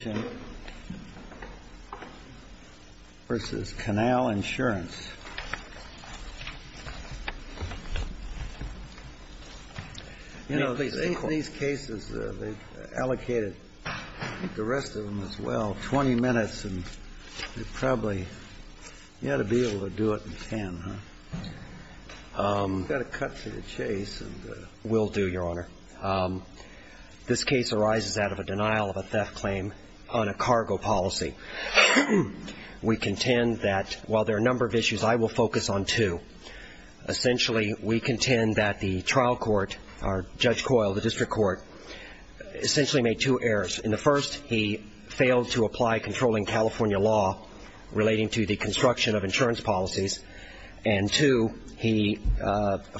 You know, these cases, they've allocated, I think the rest of them as well, 20 minutes and you probably, you ought to be able to do it in 10, huh? You've got to cut to the 20 minutes and I'm going to be very brief. I'm going to be very brief. I will focus on two. Essentially, we contend that the trial court, or Judge Coyle, the district court, essentially made two errors. In the first, he failed to apply controlling California law relating to the construction of insurance policies. And two, he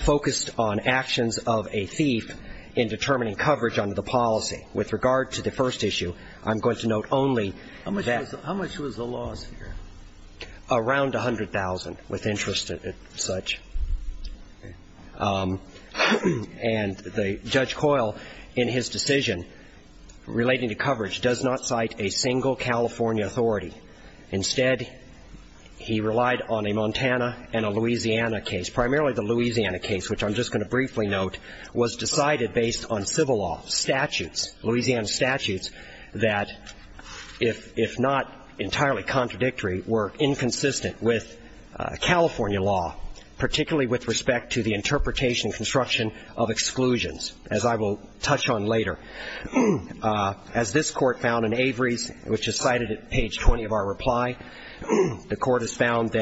focused on actions of a thief in determining coverage under the policy. With regard to the first issue, I'm going to note only that How much was the loss here? Around $100,000 with interest and such. And Judge Coyle, in his decision relating to coverage, does not cite a single California authority. Instead, he relied on a Montana and a Louisiana case. Primarily the Louisiana case, which I'm just going to briefly note, was decided based on civil law statutes, Louisiana statutes, that if not entirely contradictory, were inconsistent with California law, particularly with respect to the interpretation and construction of exclusions, as I will touch on later. As this court found in Avery's, which is cited at page 20 of our reply, the court has found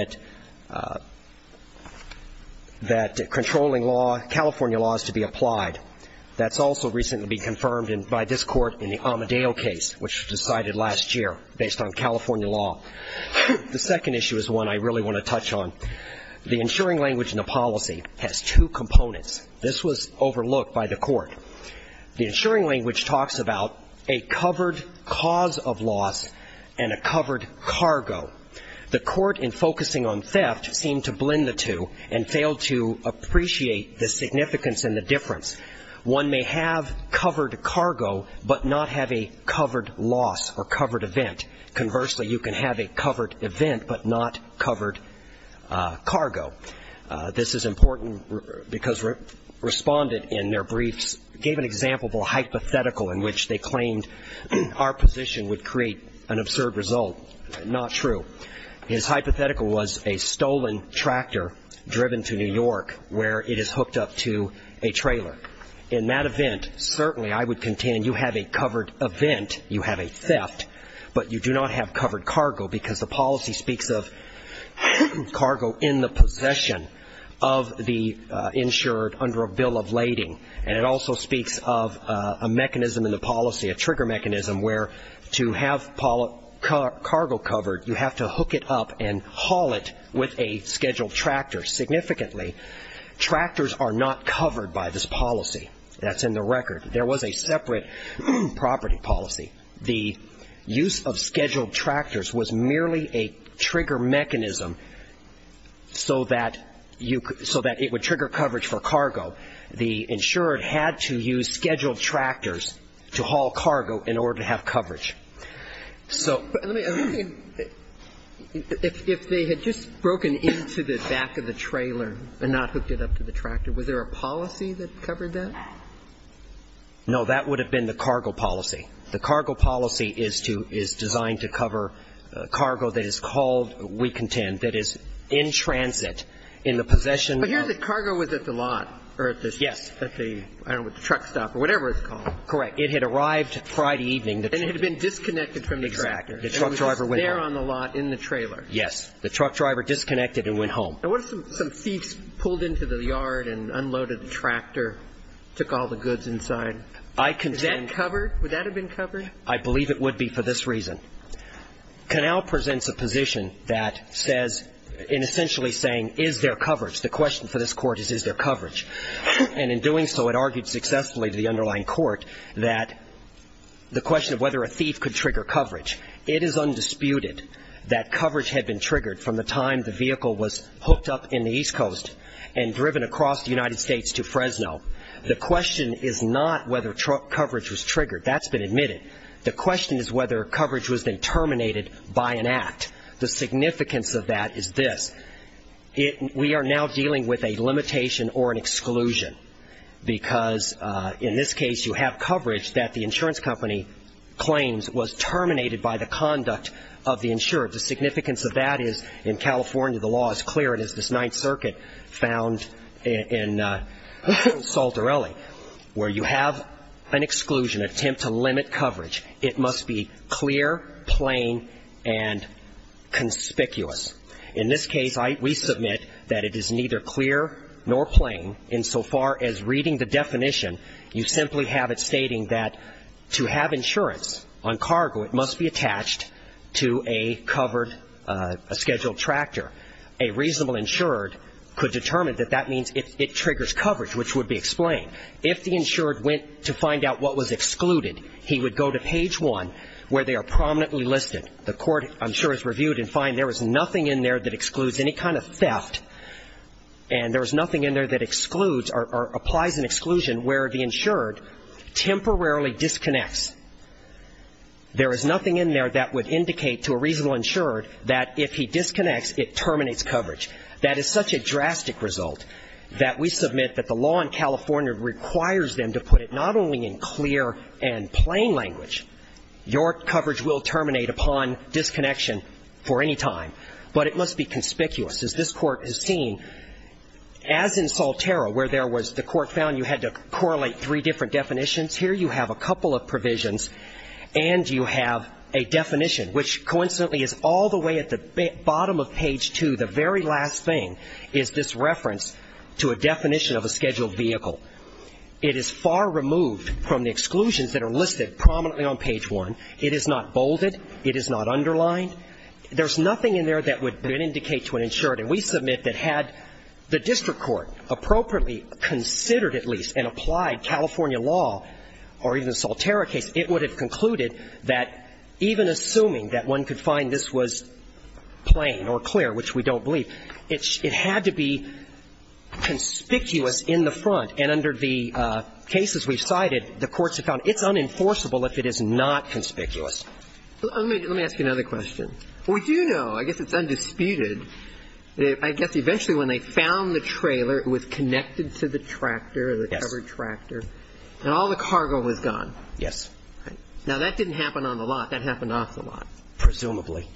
that controlling law, California law, is to be applied. That's also recently been confirmed by this court in the Amedeo case, which was decided last year based on California law. The second issue is one I really want to touch on. The insuring language in the policy has two components. This was overlooked by the court. The insuring language talks about a covered cargo. The court, in focusing on theft, seemed to blend the two and failed to appreciate the significance and the difference. One may have covered cargo but not have a covered loss or covered event. Conversely, you can have a covered event but not covered cargo. This is important because Respondent, in their briefs, gave an example of a hypothetical in which they claimed our position would create an absurd result. Not true. His hypothetical was a stolen tractor driven to New York where it is hooked up to a trailer. In that event, certainly I would contend you have a covered event, you have a theft, but you do not have covered cargo because the policy speaks of cargo in the possession of the insured under a bill of lading and it also speaks of a mechanism in the policy, a trigger mechanism where to have cargo covered, you have to hook it up and haul it with a scheduled tractor significantly. Tractors are not covered by this policy. That's in the record. There was a separate property policy. The use of scheduled tractors was merely a trigger mechanism so that you could, so that it would trigger coverage for cargo. The insured had to use scheduled tractors to haul cargo in order to have coverage. So But let me, if they had just broken into the back of the trailer and not hooked it up to the tractor, was there a policy that covered that? No. That would have been the cargo policy. The cargo policy is to, is designed to cover cargo that is called, we contend, that is in transit in the possession of But here the cargo was at the lot or at the Yes. At the, I don't know, the truck stop or whatever it's called. Correct. It had arrived Friday evening. And it had been disconnected from the tractor. Exactly. The truck driver went home. It was there on the lot in the trailer. Yes. The truck driver disconnected and went home. And what if some thief pulled into the yard and unloaded the tractor, took all the goods inside? I contend Would that have been covered? I believe it would be for this reason. Canal presents a position that says, in essentially saying, is there coverage? The question for this court is, is there coverage? And in doing so, it argued successfully to the underlying court that the question of whether a thief could trigger coverage, it is undisputed that coverage had been triggered from the time the vehicle was hooked up in the East Coast and driven across the United States to Fresno. The question is not whether truck coverage was triggered. That's been admitted. The question is whether coverage was then terminated by an act. The significance of that is this. We are now dealing with a limitation or an exclusion. Because in this case, you have coverage that the insurance company claims was terminated by the conduct of the insurer. The significance of that is, in California, the law is clear, and it's this Ninth Circuit found in Saltarelli, where you have an exclusion, attempt to limit coverage. It must be clear, plain, and conspicuous. In this case, we submit that it is neither clear nor plain, insofar as reading the definition, you simply have it stating that to have insurance on cargo, it must be attached to a covered or scheduled tractor. A reasonable insured could determine that that means it triggers coverage, which would be explained. If the insured went to find out what was excluded, he would go to page one, where they are prominently listed. The court, I'm sure, has reviewed and found there is nothing in there that excludes any kind of theft, and there is nothing in there that excludes or applies an exclusion where the insured temporarily disconnects. There is nothing in there that would indicate to a reasonable insured that if he disconnects, it terminates coverage. That is such a drastic result that we submit that the law in California requires them to put it not only in clear and plain language, your coverage will terminate upon disconnection for any time, but it must be conspicuous. As this Court has seen, as in Salterra, where there was the court found you had to correlate three different definitions, here you have a couple of provisions, and you have a definition, which coincidentally is all the way at the bottom of page two, the very last thing, is this reference to a definition of a scheduled vehicle. It is far removed from the exclusions that are listed prominently on page one. It is not bolded. It is not underlined. There is nothing in there that would indicate to an insured, and we submit that had the district court appropriately considered at least and applied California law or even the Salterra case, it would have concluded that even assuming that one could find this was plain or clear, which we don't believe, it had to be conspicuous in the front. And under the cases we've cited, the courts have found it's unenforceable if it is not conspicuous. Let me ask you another question. We do know, I guess it's undisputed, I guess eventually when they found the trailer, it was connected to the tractor, the covered tractor, and all the cargo was gone. Yes. Now, that didn't happen on the lot. That happened off the lot. Presumably.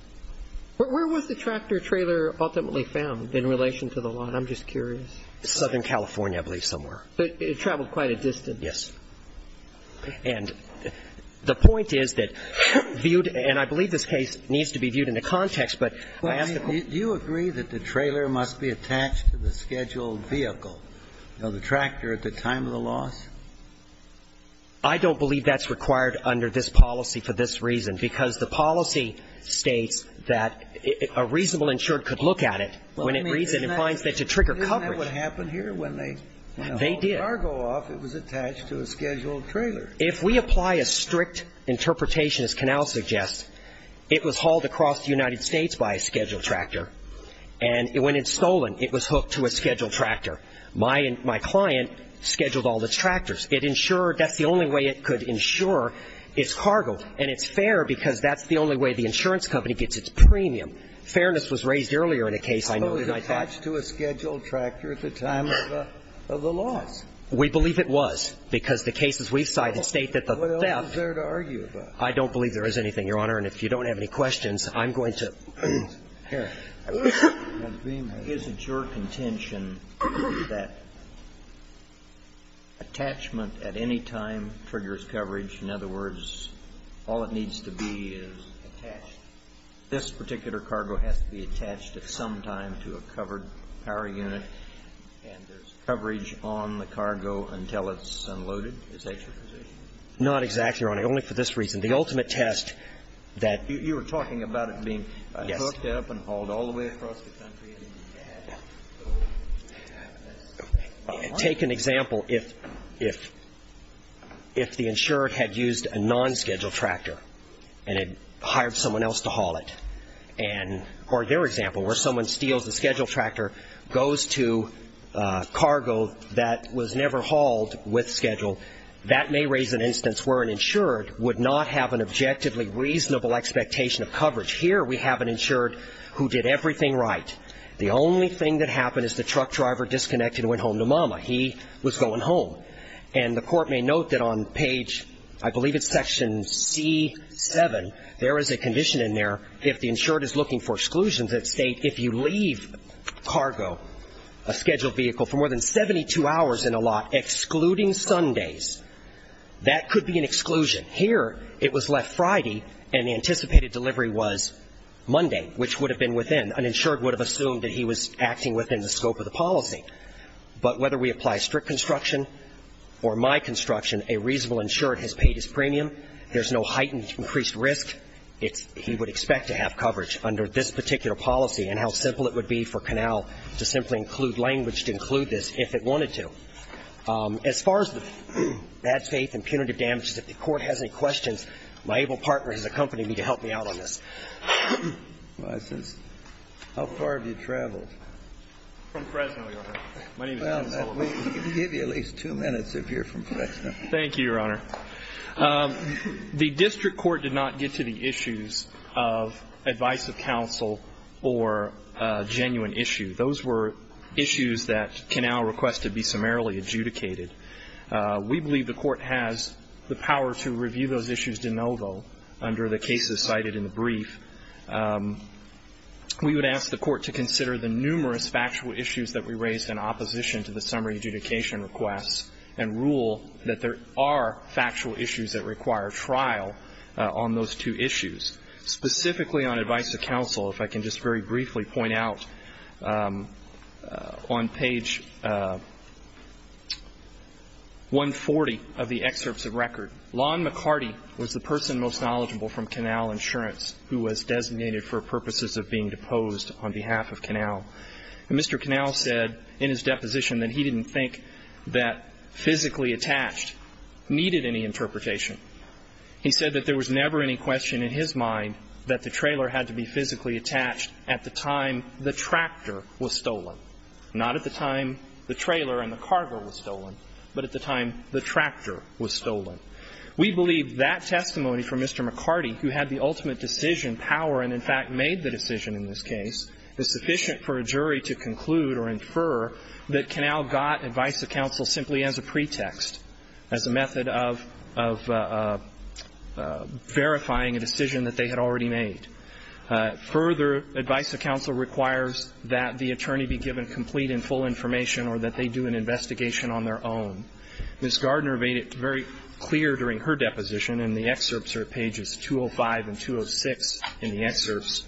Where was the tractor-trailer ultimately found in relation to the lot? I'm just curious. Southern California, I believe, somewhere. It traveled quite a distance. Yes. And the point is that viewed, and I believe this case needs to be viewed in the context, but I ask the Court. Do you agree that the trailer must be attached to the scheduled vehicle, the tractor, at the time of the loss? I don't believe that's required under this policy for this reason, because the policy states that a reasonable insured could look at it when it reads it and finds that it should trigger coverage. Isn't that what happened here when they hauled cargo off, it was attached to a scheduled trailer? If we apply a strict interpretation, as Canale suggests, it was hauled across the United States by a scheduled tractor, and when it's stolen, it was hooked to a scheduled tractor. My client scheduled all the tractors. It insured that's the only way it could insure its cargo, and it's fair because that's the only way the insurance company gets its premium. Fairness was raised earlier in a case I know. So it was attached to a scheduled tractor at the time of the loss. We believe it was, because the cases we've cited state that the theft. What else is there to argue about? I don't believe there is anything, Your Honor. And if you don't have any questions, I'm going to. Here. Is it your contention that attachment at any time triggers coverage? In other words, all it needs to be is attached. This particular cargo has to be attached at some time to a covered power unit, and there's coverage on the cargo until it's unloaded? Is that your position? Not exactly, Your Honor. Only for this reason. The ultimate test that you were talking about it being hooked up and hauled all the way across the country. Take an example if the insured had used a non-scheduled tractor and had hired someone else to haul it. Or their example, where someone steals a scheduled tractor, goes to cargo that was never hauled with schedule. That may raise an instance where an insured would not have an objectively reasonable expectation of coverage. Here we have an insured who did everything right. The only thing that happened is the truck driver disconnected and went home to Mama. He was going home. And the court may note that on page, I believe it's section C7, there is a condition in there if the insured is looking for exclusions that state if you leave cargo, a scheduled vehicle, for more than 72 hours in a lot, excluding Sundays, that could be an exclusion. Here it was left Friday and the anticipated delivery was Monday, which would have been within. An insured would have assumed that he was acting within the scope of the policy. But whether we apply strict construction or my construction, a reasonable insured has paid his premium. There's no heightened increased risk. He would expect to have coverage under this particular policy and how simple it would be for Canal to simply include language to include this if it wanted to. As far as the bad faith and punitive damages, if the court has any questions, my able partner has accompanied me to help me out on this. License. How far have you traveled? From Fresno, Your Honor. My name is Ken Sullivan. Well, we can give you at least two minutes if you're from Fresno. Thank you, Your Honor. The district court did not get to the issues of advice of counsel or a genuine issue. Those were issues that Canal requested be summarily adjudicated. We believe the court has the power to review those issues de novo under the cases cited in the brief. We would ask the court to consider the numerous factual issues that we raised in opposition to the summary adjudication requests and rule that there are factual issues that require trial on those two issues. Specifically on advice of counsel, if I can just very briefly point out on page 140 of the excerpts of record, Lon McCarty was the person most knowledgeable from Canal Insurance who was designated for purposes of being deposed on behalf of Canal. And Mr. Canal said in his deposition that he didn't think that physically attached needed any interpretation. He said that there was never any question in his mind that the trailer had to be physically attached at the time the tractor was stolen. Not at the time the trailer and the cargo was stolen, but at the time the tractor was stolen. We believe that testimony from Mr. McCarty, who had the ultimate decision power and in fact made the decision in this case, is sufficient for a jury to conclude or infer that Canal got advice of counsel simply as a pretext, as a method of verifying a decision that they had already made. Further, advice of counsel requires that the attorney be given complete and full information or that they do an investigation on their own. Ms. Gardner made it very clear during her deposition in the excerpts or pages 205 and 206 in the excerpts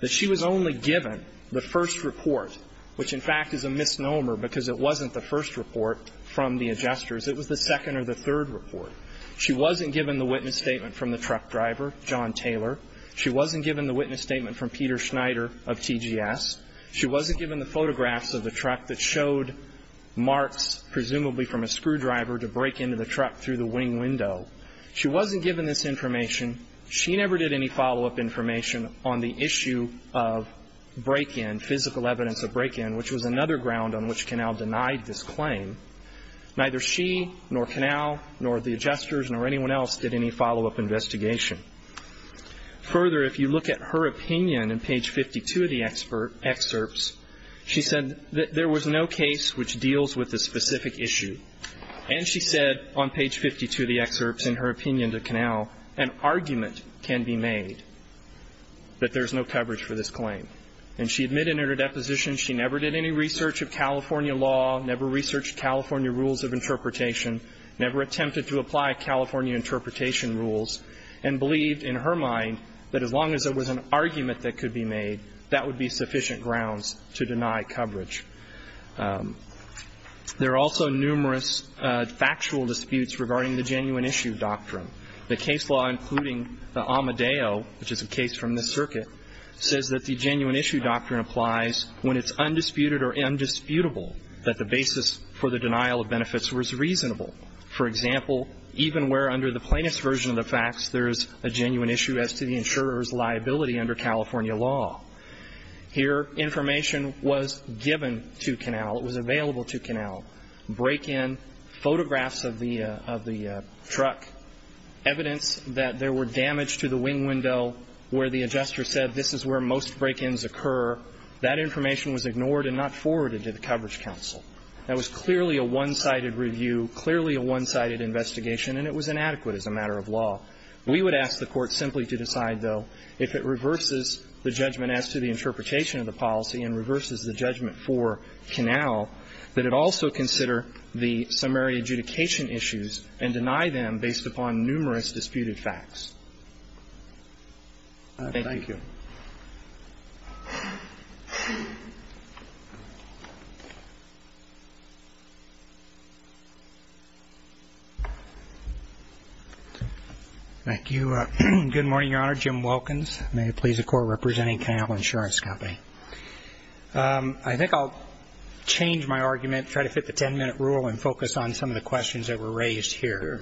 that she was only given the first report, which in fact is a misnomer because it wasn't the first report from the adjusters. It was the second or the third report. She wasn't given the witness statement from the truck driver, John Taylor. She wasn't given the witness statement from Peter Schneider of TGS. She wasn't given the photographs of the truck that showed marks presumably from a screwdriver to break into the truck through the wing window. She wasn't given this information. She never did any follow-up information on the issue of break-in, physical evidence of break-in, which was another ground on which Canal denied this claim. Neither she nor Canal nor the adjusters nor anyone else did any follow-up investigation. Further, if you look at her opinion in page 52 of the excerpts, she said that there was no case which deals with the specific issue. And she said on page 52 of the excerpts in her opinion to Canal, an argument can be made that there's no coverage for this claim. And she admitted in her deposition she never did any research of California law, never researched California rules of interpretation, never attempted to apply California interpretation rules, and believed in her mind that as long as there was an argument that could be made, that would be sufficient grounds to deny coverage. There are also numerous factual disputes regarding the genuine issue doctrine. The case law including the Amadeo, which is a case from this circuit, says that the genuine issue doctrine applies when it's undisputed or indisputable that the basis for the denial of benefits was reasonable. For example, even where under the plaintiff's version of the facts there is a genuine issue as to the insurer's liability under California law. Here, information was given to Canal, it was available to Canal, break-in, photographs of the truck, evidence that there were damage to the wing window where the adjuster said this is where most break-ins occur, that information was ignored and not forwarded to the Coverage Council. That was clearly a one-sided review, clearly a one-sided investigation, and it was inadequate as a matter of law. We would ask the Court simply to decide, though, if it reverses the judgment as to the interpretation of the policy and reverses the judgment for Canal, that it also consider the summary adjudication issues and deny them based upon numerous disputed facts. Thank you. Thank you. Thank you. Good morning, Your Honor. Jim Wilkins. May it please the Court, representing Canal Insurance Company. I think I'll change my argument, try to fit the ten-minute rule and focus on some of the questions that were raised here.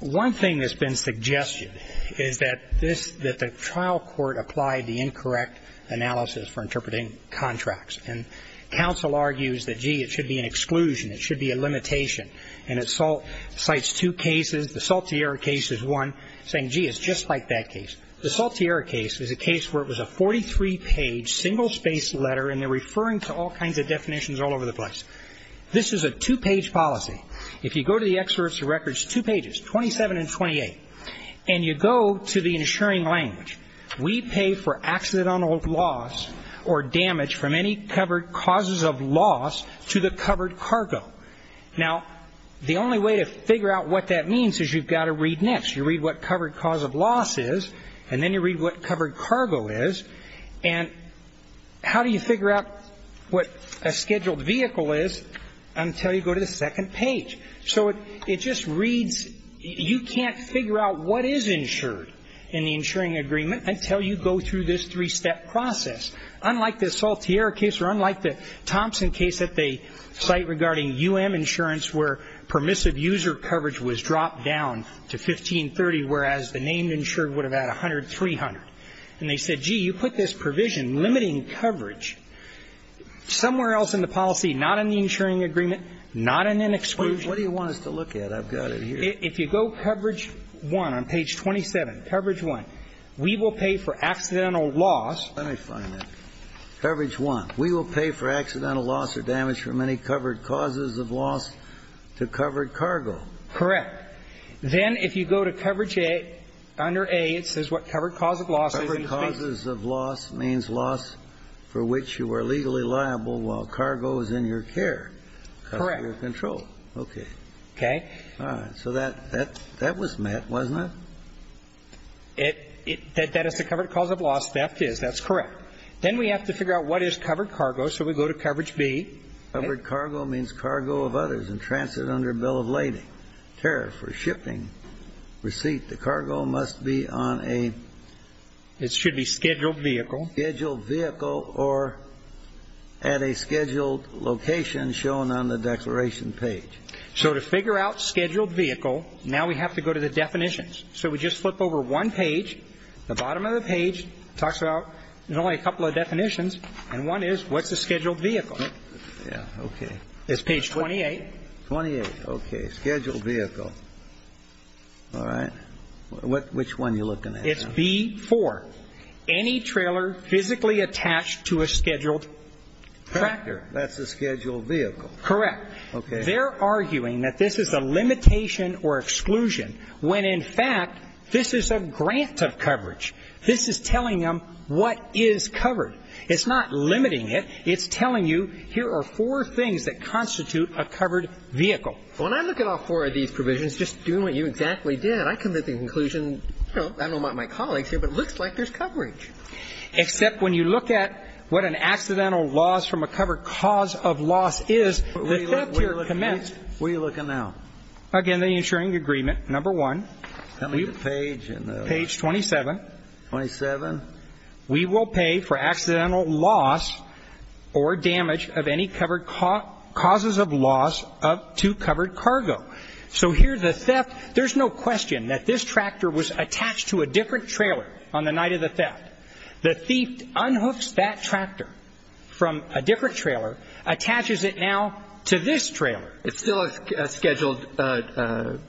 One thing that's been suggested is that the trial court applied the incorrect analysis for interpreting contracts. And counsel argues that, gee, it should be an exclusion, it should be a limitation. And it cites two cases. The Saltier case is one, saying, gee, it's just like that case. The Saltier case is a case where it was a 43-page, single-spaced letter, and they're referring to all kinds of definitions all over the place. This is a two-page policy. If you go to the experts records, two pages, 27 and 28, and you go to the insuring language, we pay for accidental loss or damage from any covered causes of loss to the covered cargo. Now, the only way to figure out what that means is you've got to read next. You read what covered cause of loss is, and then you read what covered cargo is. And how do you figure out what a scheduled vehicle is? Until you go to the second page. So it just reads, you can't figure out what is insured in the insuring agreement until you go through this three-step process. Unlike the Saltier case or unlike the Thompson case that they cite regarding U.M. insurance where permissive user coverage was dropped down to 1530, whereas the named insured would have had 100, 300. And they said, gee, you put this provision limiting coverage somewhere else in the policy, not in the insuring agreement, not in an exclusion. What do you want us to look at? I've got it here. If you go coverage 1 on page 27, coverage 1, we will pay for accidental loss. Let me find it. Coverage 1. We will pay for accidental loss or damage from any covered causes of loss to covered Correct. Then if you go to coverage A, under A, it says what covered cause of loss is. Covered causes of loss means loss for which you are legally liable while cargo is in your care. Correct. Out of your control. Okay. Okay. All right. So that was met, wasn't it? That is the covered cause of loss. Theft is. That's correct. Then we have to figure out what is covered cargo. So we go to coverage B. Covered cargo means cargo of others and transit under bill of lading. Tariff or shipping receipt. The cargo must be on a. It should be scheduled vehicle. Scheduled vehicle or at a scheduled location shown on the declaration page. So to figure out scheduled vehicle, now we have to go to the definitions. So we just flip over one page. The bottom of the page talks about there's only a couple of definitions, and one is what's a scheduled vehicle. Yeah. Okay. It's page 28. 28. Okay. Scheduled vehicle. All right. Which one are you looking at? It's B4. Any trailer physically attached to a scheduled tractor. That's a scheduled vehicle. Correct. Okay. They're arguing that this is a limitation or exclusion when, in fact, this is a grant of coverage. This is telling them what is covered. It's not limiting it. It's telling you here are four things that constitute a covered vehicle. When I look at all four of these provisions, just doing what you exactly did, I come to the conclusion, I don't know about my colleagues here, but it looks like there's coverage. Except when you look at what an accidental loss from a covered cause of loss is. Where are you looking now? Again, the insuring agreement, number one. Tell me the page. Page 27. 27. We will pay for accidental loss or damage of any covered causes of loss of two covered cargo. So here the theft, there's no question that this tractor was attached to a different trailer on the night of the theft. The thief unhooks that tractor from a different trailer, attaches it now to this trailer. It's still a scheduled tractor,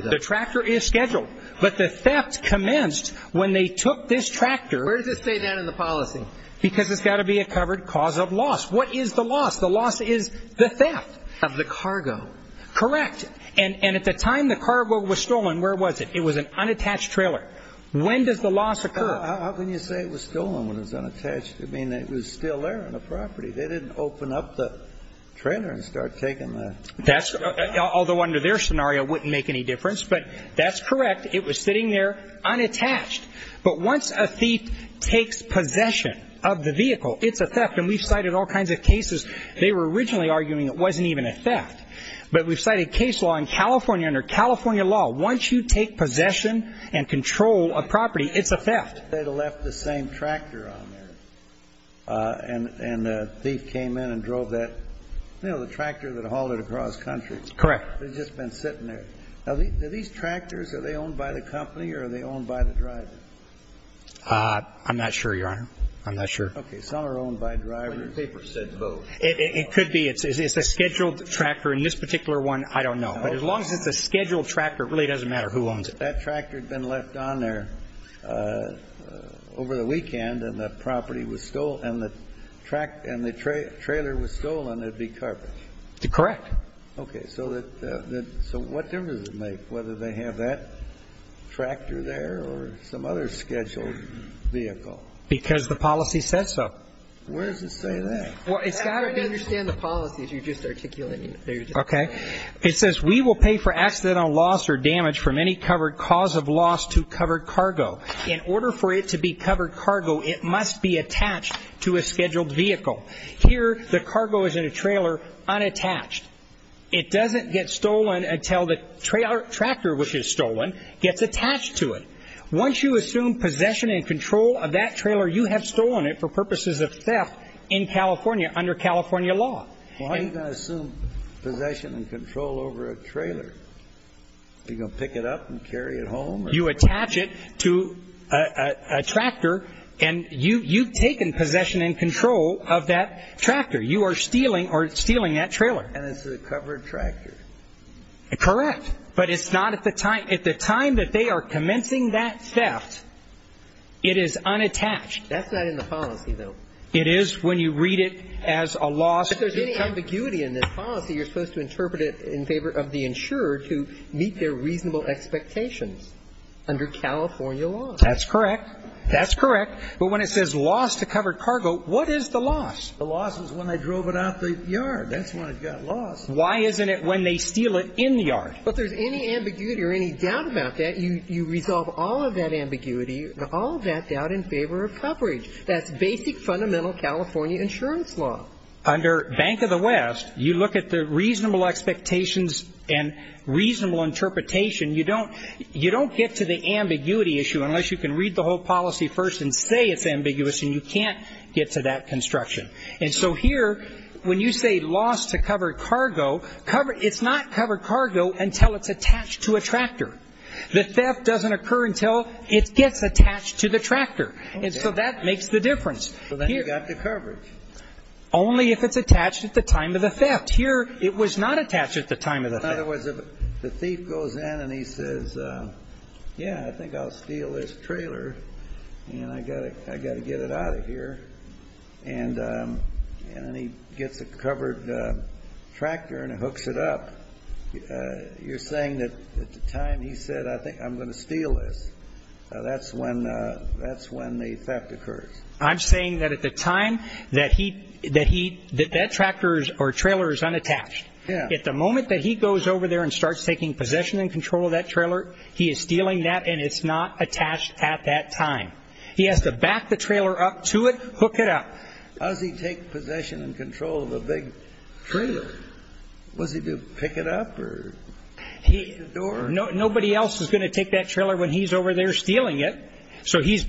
though. The tractor is scheduled. But the theft commenced when they took this tractor. Where does it say that in the policy? Because it's got to be a covered cause of loss. What is the loss? The loss is the theft. Of the cargo. Correct. And at the time the cargo was stolen, where was it? It was an unattached trailer. When does the loss occur? How can you say it was stolen when it was unattached? They didn't open up the trailer and start taking the cargo. Although under their scenario it wouldn't make any difference. But that's correct. It was sitting there unattached. But once a thief takes possession of the vehicle, it's a theft. And we've cited all kinds of cases. They were originally arguing it wasn't even a theft. But we've cited case law in California under California law. Once you take possession and control a property, it's a theft. They left the same tractor on there. And a thief came in and drove that tractor that hauled it across country. Correct. It had just been sitting there. Now, are these tractors owned by the company or are they owned by the driver? I'm not sure, Your Honor. I'm not sure. Okay. Some are owned by drivers. The paper said both. It could be. It's a scheduled tractor. And this particular one, I don't know. But as long as it's a scheduled tractor, it really doesn't matter who owns it. If that tractor had been left on there over the weekend and the property was stolen and the trailer was stolen, it would be carpet. Correct. Okay. So what difference does it make whether they have that tractor there or some other scheduled vehicle? Because the policy says so. Where does it say that? It's hard to understand the policy if you're just articulating it. Okay. It says we will pay for accidental loss or damage from any covered cause of loss to covered cargo. In order for it to be covered cargo, it must be attached to a scheduled vehicle. Here the cargo is in a trailer unattached. It doesn't get stolen until the tractor, which is stolen, gets attached to it. Once you assume possession and control of that trailer, you have stolen it for purposes of theft in California under California law. Why are you going to assume possession and control over a trailer? Are you going to pick it up and carry it home? You attach it to a tractor, and you've taken possession and control of that tractor. You are stealing that trailer. And it's a covered tractor. Correct. But it's not at the time. At the time that they are commencing that theft, it is unattached. That's not in the policy, though. It is when you read it as a loss. If there's any ambiguity in this policy, you're supposed to interpret it in favor of the insurer to meet their reasonable expectations under California law. That's correct. That's correct. But when it says loss to covered cargo, what is the loss? The loss is when they drove it out of the yard. That's when it got lost. Why isn't it when they steal it in the yard? If there's any ambiguity or any doubt about that, you resolve all of that ambiguity and all of that doubt in favor of coverage. That's basic, fundamental California insurance law. Under Bank of the West, you look at the reasonable expectations and reasonable interpretation. You don't get to the ambiguity issue unless you can read the whole policy first and say it's ambiguous, and you can't get to that construction. And so here, when you say loss to covered cargo, it's not covered cargo until it's attached to a tractor. The theft doesn't occur until it gets attached to the tractor. And so that makes the difference. So then you've got the coverage. Only if it's attached at the time of the theft. Here, it was not attached at the time of the theft. In other words, if the thief goes in and he says, yeah, I think I'll steal this trailer, and I've got to get it out of here. And then he gets a covered tractor and hooks it up. You're saying that at the time he said, I think I'm going to steal this. That's when the theft occurs. I'm saying that at the time that that tractor or trailer is unattached, at the moment that he goes over there and starts taking possession and control of that trailer, he is stealing that, and it's not attached at that time. He has to back the trailer up to it, hook it up. How does he take possession and control of a big trailer? Was he to pick it up or kick the door? Nobody else is going to take that trailer when he's over there stealing it. So he's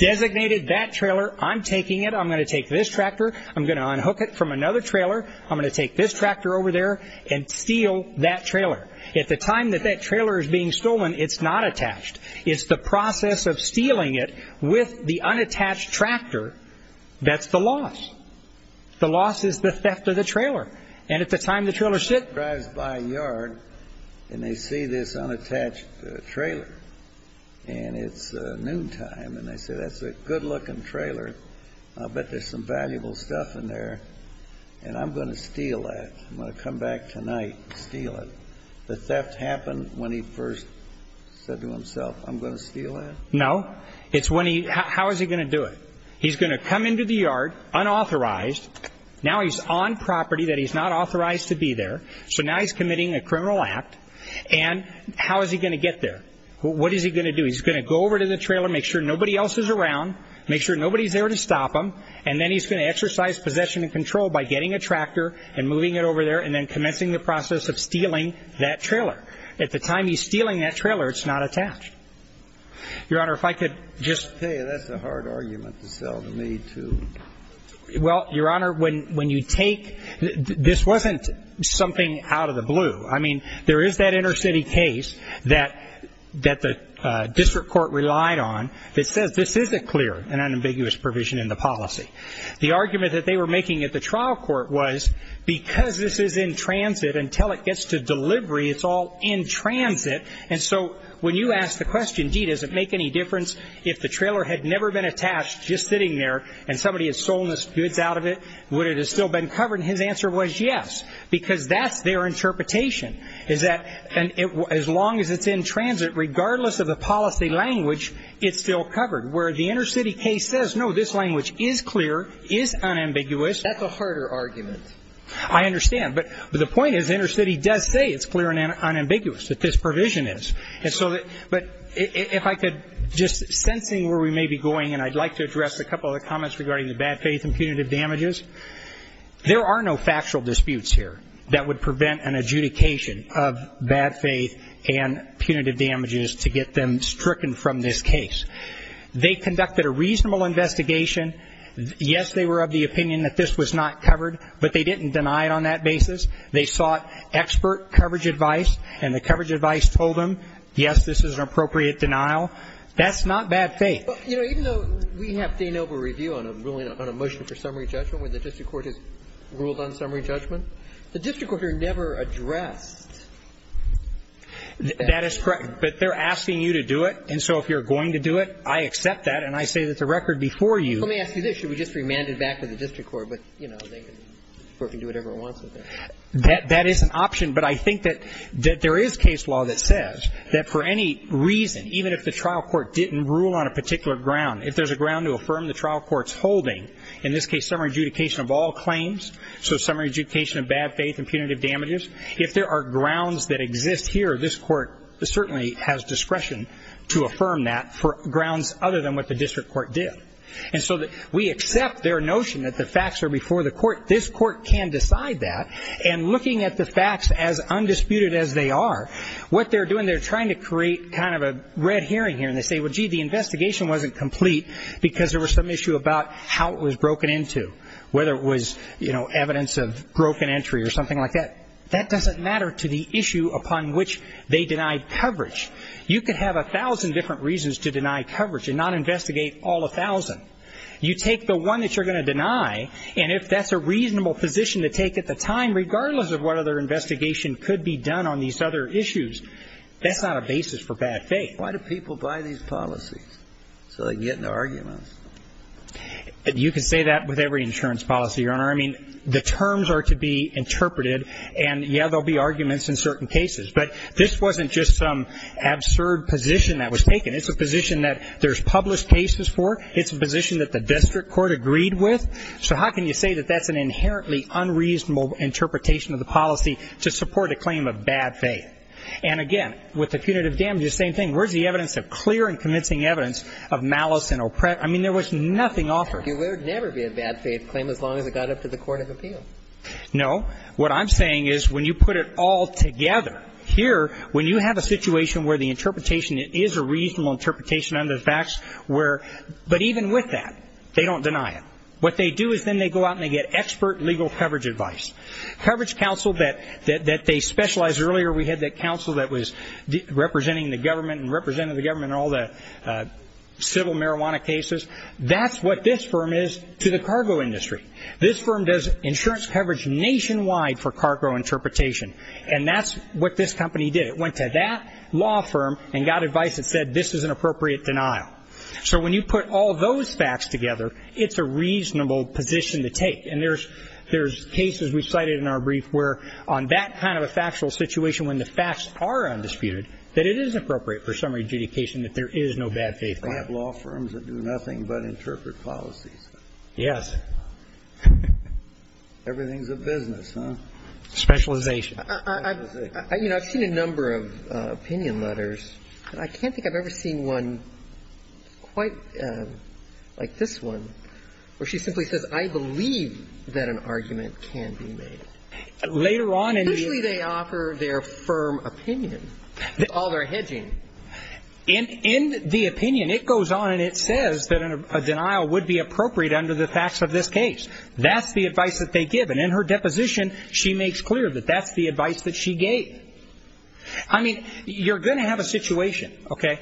designated that trailer. I'm taking it. I'm going to take this tractor. I'm going to unhook it from another trailer. I'm going to take this tractor over there and steal that trailer. At the time that that trailer is being stolen, it's not attached. It's the process of stealing it with the unattached tractor that's the loss. The loss is the theft of the trailer. He drives by a yard, and they see this unattached trailer, and it's noontime, and they say, that's a good-looking trailer. I'll bet there's some valuable stuff in there, and I'm going to steal that. I'm going to come back tonight and steal it. The theft happened when he first said to himself, I'm going to steal that? No. It's when he – how is he going to do it? He's going to come into the yard, unauthorized. Now he's on property that he's not authorized to be there, so now he's committing a criminal act, and how is he going to get there? What is he going to do? He's going to go over to the trailer, make sure nobody else is around, make sure nobody's there to stop him, and then he's going to exercise possession and control by getting a tractor and moving it over there and then commencing the process of stealing that trailer. At the time he's stealing that trailer, it's not attached. Your Honor, if I could just – Hey, that's a hard argument to sell to me, too. Well, Your Honor, when you take – this wasn't something out of the blue. I mean, there is that inner city case that the district court relied on that says this is a clear and unambiguous provision in the policy. The argument that they were making at the trial court was because this is in transit, until it gets to delivery, it's all in transit, and so when you ask the question, gee, does it make any difference if the trailer had never been attached, just sitting there, and somebody has stolen this goods out of it, would it have still been covered? And his answer was yes, because that's their interpretation, is that as long as it's in transit, regardless of the policy language, it's still covered. Where the inner city case says, no, this language is clear, is unambiguous. That's a harder argument. I understand, but the point is inner city does say it's clear and unambiguous, that this provision is. But if I could, just sensing where we may be going, and I'd like to address a couple of the comments regarding the bad faith and punitive damages. There are no factual disputes here that would prevent an adjudication of bad faith and punitive damages to get them stricken from this case. They conducted a reasonable investigation. Yes, they were of the opinion that this was not covered, but they didn't deny it on that basis. They sought expert coverage advice, and the coverage advice told them, yes, this is an appropriate denial. That's not bad faith. You know, even though we have de novo review on a motion for summary judgment, where the district court has ruled on summary judgment, the district court are never addressed. That is correct, but they're asking you to do it, and so if you're going to do it, I accept that, and I say that the record before you. Let me ask you this. Should we just remand it back to the district court, but, you know, the court can do whatever it wants with it? That is an option, but I think that there is case law that says that for any reason, even if the trial court didn't rule on a particular ground, if there's a ground to affirm the trial court's holding, in this case, summary adjudication of all claims, so summary adjudication of bad faith and punitive damages, if there are grounds that exist here, this court certainly has discretion to affirm that for grounds other than what the district court did. And so we accept their notion that the facts are before the court. This court can decide that, and looking at the facts as undisputed as they are, what they're doing, they're trying to create kind of a red herring here, and they say, well, gee, the investigation wasn't complete because there was some issue about how it was broken into, whether it was, you know, evidence of broken entry or something like that. That doesn't matter to the issue upon which they denied coverage. You could have a thousand different reasons to deny coverage and not investigate all a thousand. You take the one that you're going to deny, and if that's a reasonable position to take at the time, regardless of what other investigation could be done on these other issues, that's not a basis for bad faith. Why do people buy these policies? So they can get into arguments. You can say that with every insurance policy, Your Honor. I mean, the terms are to be interpreted, and, yeah, there will be arguments in certain cases. But this wasn't just some absurd position that was taken. It's a position that there's published cases for. It's a position that the district court agreed with. So how can you say that that's an inherently unreasonable interpretation of the policy to support a claim of bad faith? And, again, with the punitive damages, same thing. Where's the evidence of clear and convincing evidence of malice and oppression? I mean, there was nothing offered. You would never be a bad faith claim as long as it got up to the court of appeal. No. What I'm saying is when you put it all together, here, when you have a situation where the interpretation, it is a reasonable interpretation under the facts, but even with that, they don't deny it. What they do is then they go out and they get expert legal coverage advice. Coverage counsel that they specialized earlier, we had that counsel that was representing the government and represented the government in all the civil marijuana cases, that's what this firm is to the cargo industry. This firm does insurance coverage nationwide for cargo interpretation, and that's what this company did. It went to that law firm and got advice that said this is an appropriate denial. So when you put all those facts together, it's a reasonable position to take. And there's cases we've cited in our brief where on that kind of a factual situation when the facts are undisputed, that it is appropriate for summary adjudication that there is no bad faith. We have law firms that do nothing but interpret policies. Yes. Everything's a business, huh? Specialization. You know, I've seen a number of opinion letters, but I can't think I've ever seen one quite like this one, where she simply says I believe that an argument can be made. Later on in the... Especially they offer their firm opinion. That's all they're hedging. In the opinion, it goes on and it says that a denial would be appropriate under the facts of this case. That's the advice that they give. And in her deposition, she makes clear that that's the advice that she gave. I mean, you're going to have a situation, okay?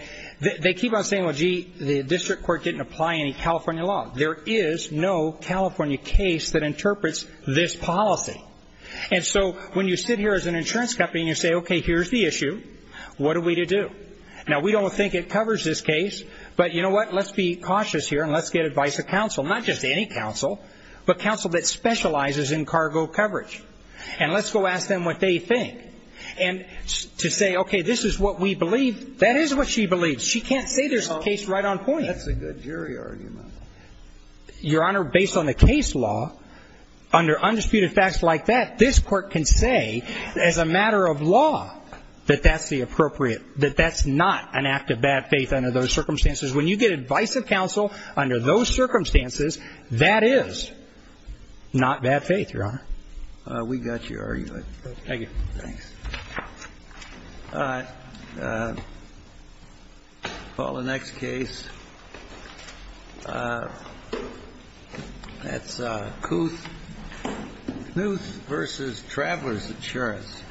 They keep on saying, well, gee, the district court didn't apply any California law. There is no California case that interprets this policy. And so when you sit here as an insurance company and you say, okay, here's the issue, what are we to do? Now, we don't think it covers this case, but you know what? Let's be cautious here and let's get advice of counsel, not just any counsel, but counsel that specializes in cargo coverage. And let's go ask them what they think. And to say, okay, this is what we believe, that is what she believes. She can't say there's a case right on point. That's a good jury argument. Your Honor, based on the case law, under undisputed facts like that, this court can say as a matter of law that that's the appropriate, that that's not an act of bad faith under those circumstances. When you get advice of counsel under those circumstances, that is not bad faith, Your Honor. We got your argument. Thank you. Thanks. All right. We'll call the next case. That's Kuth versus Traveler's Insurance.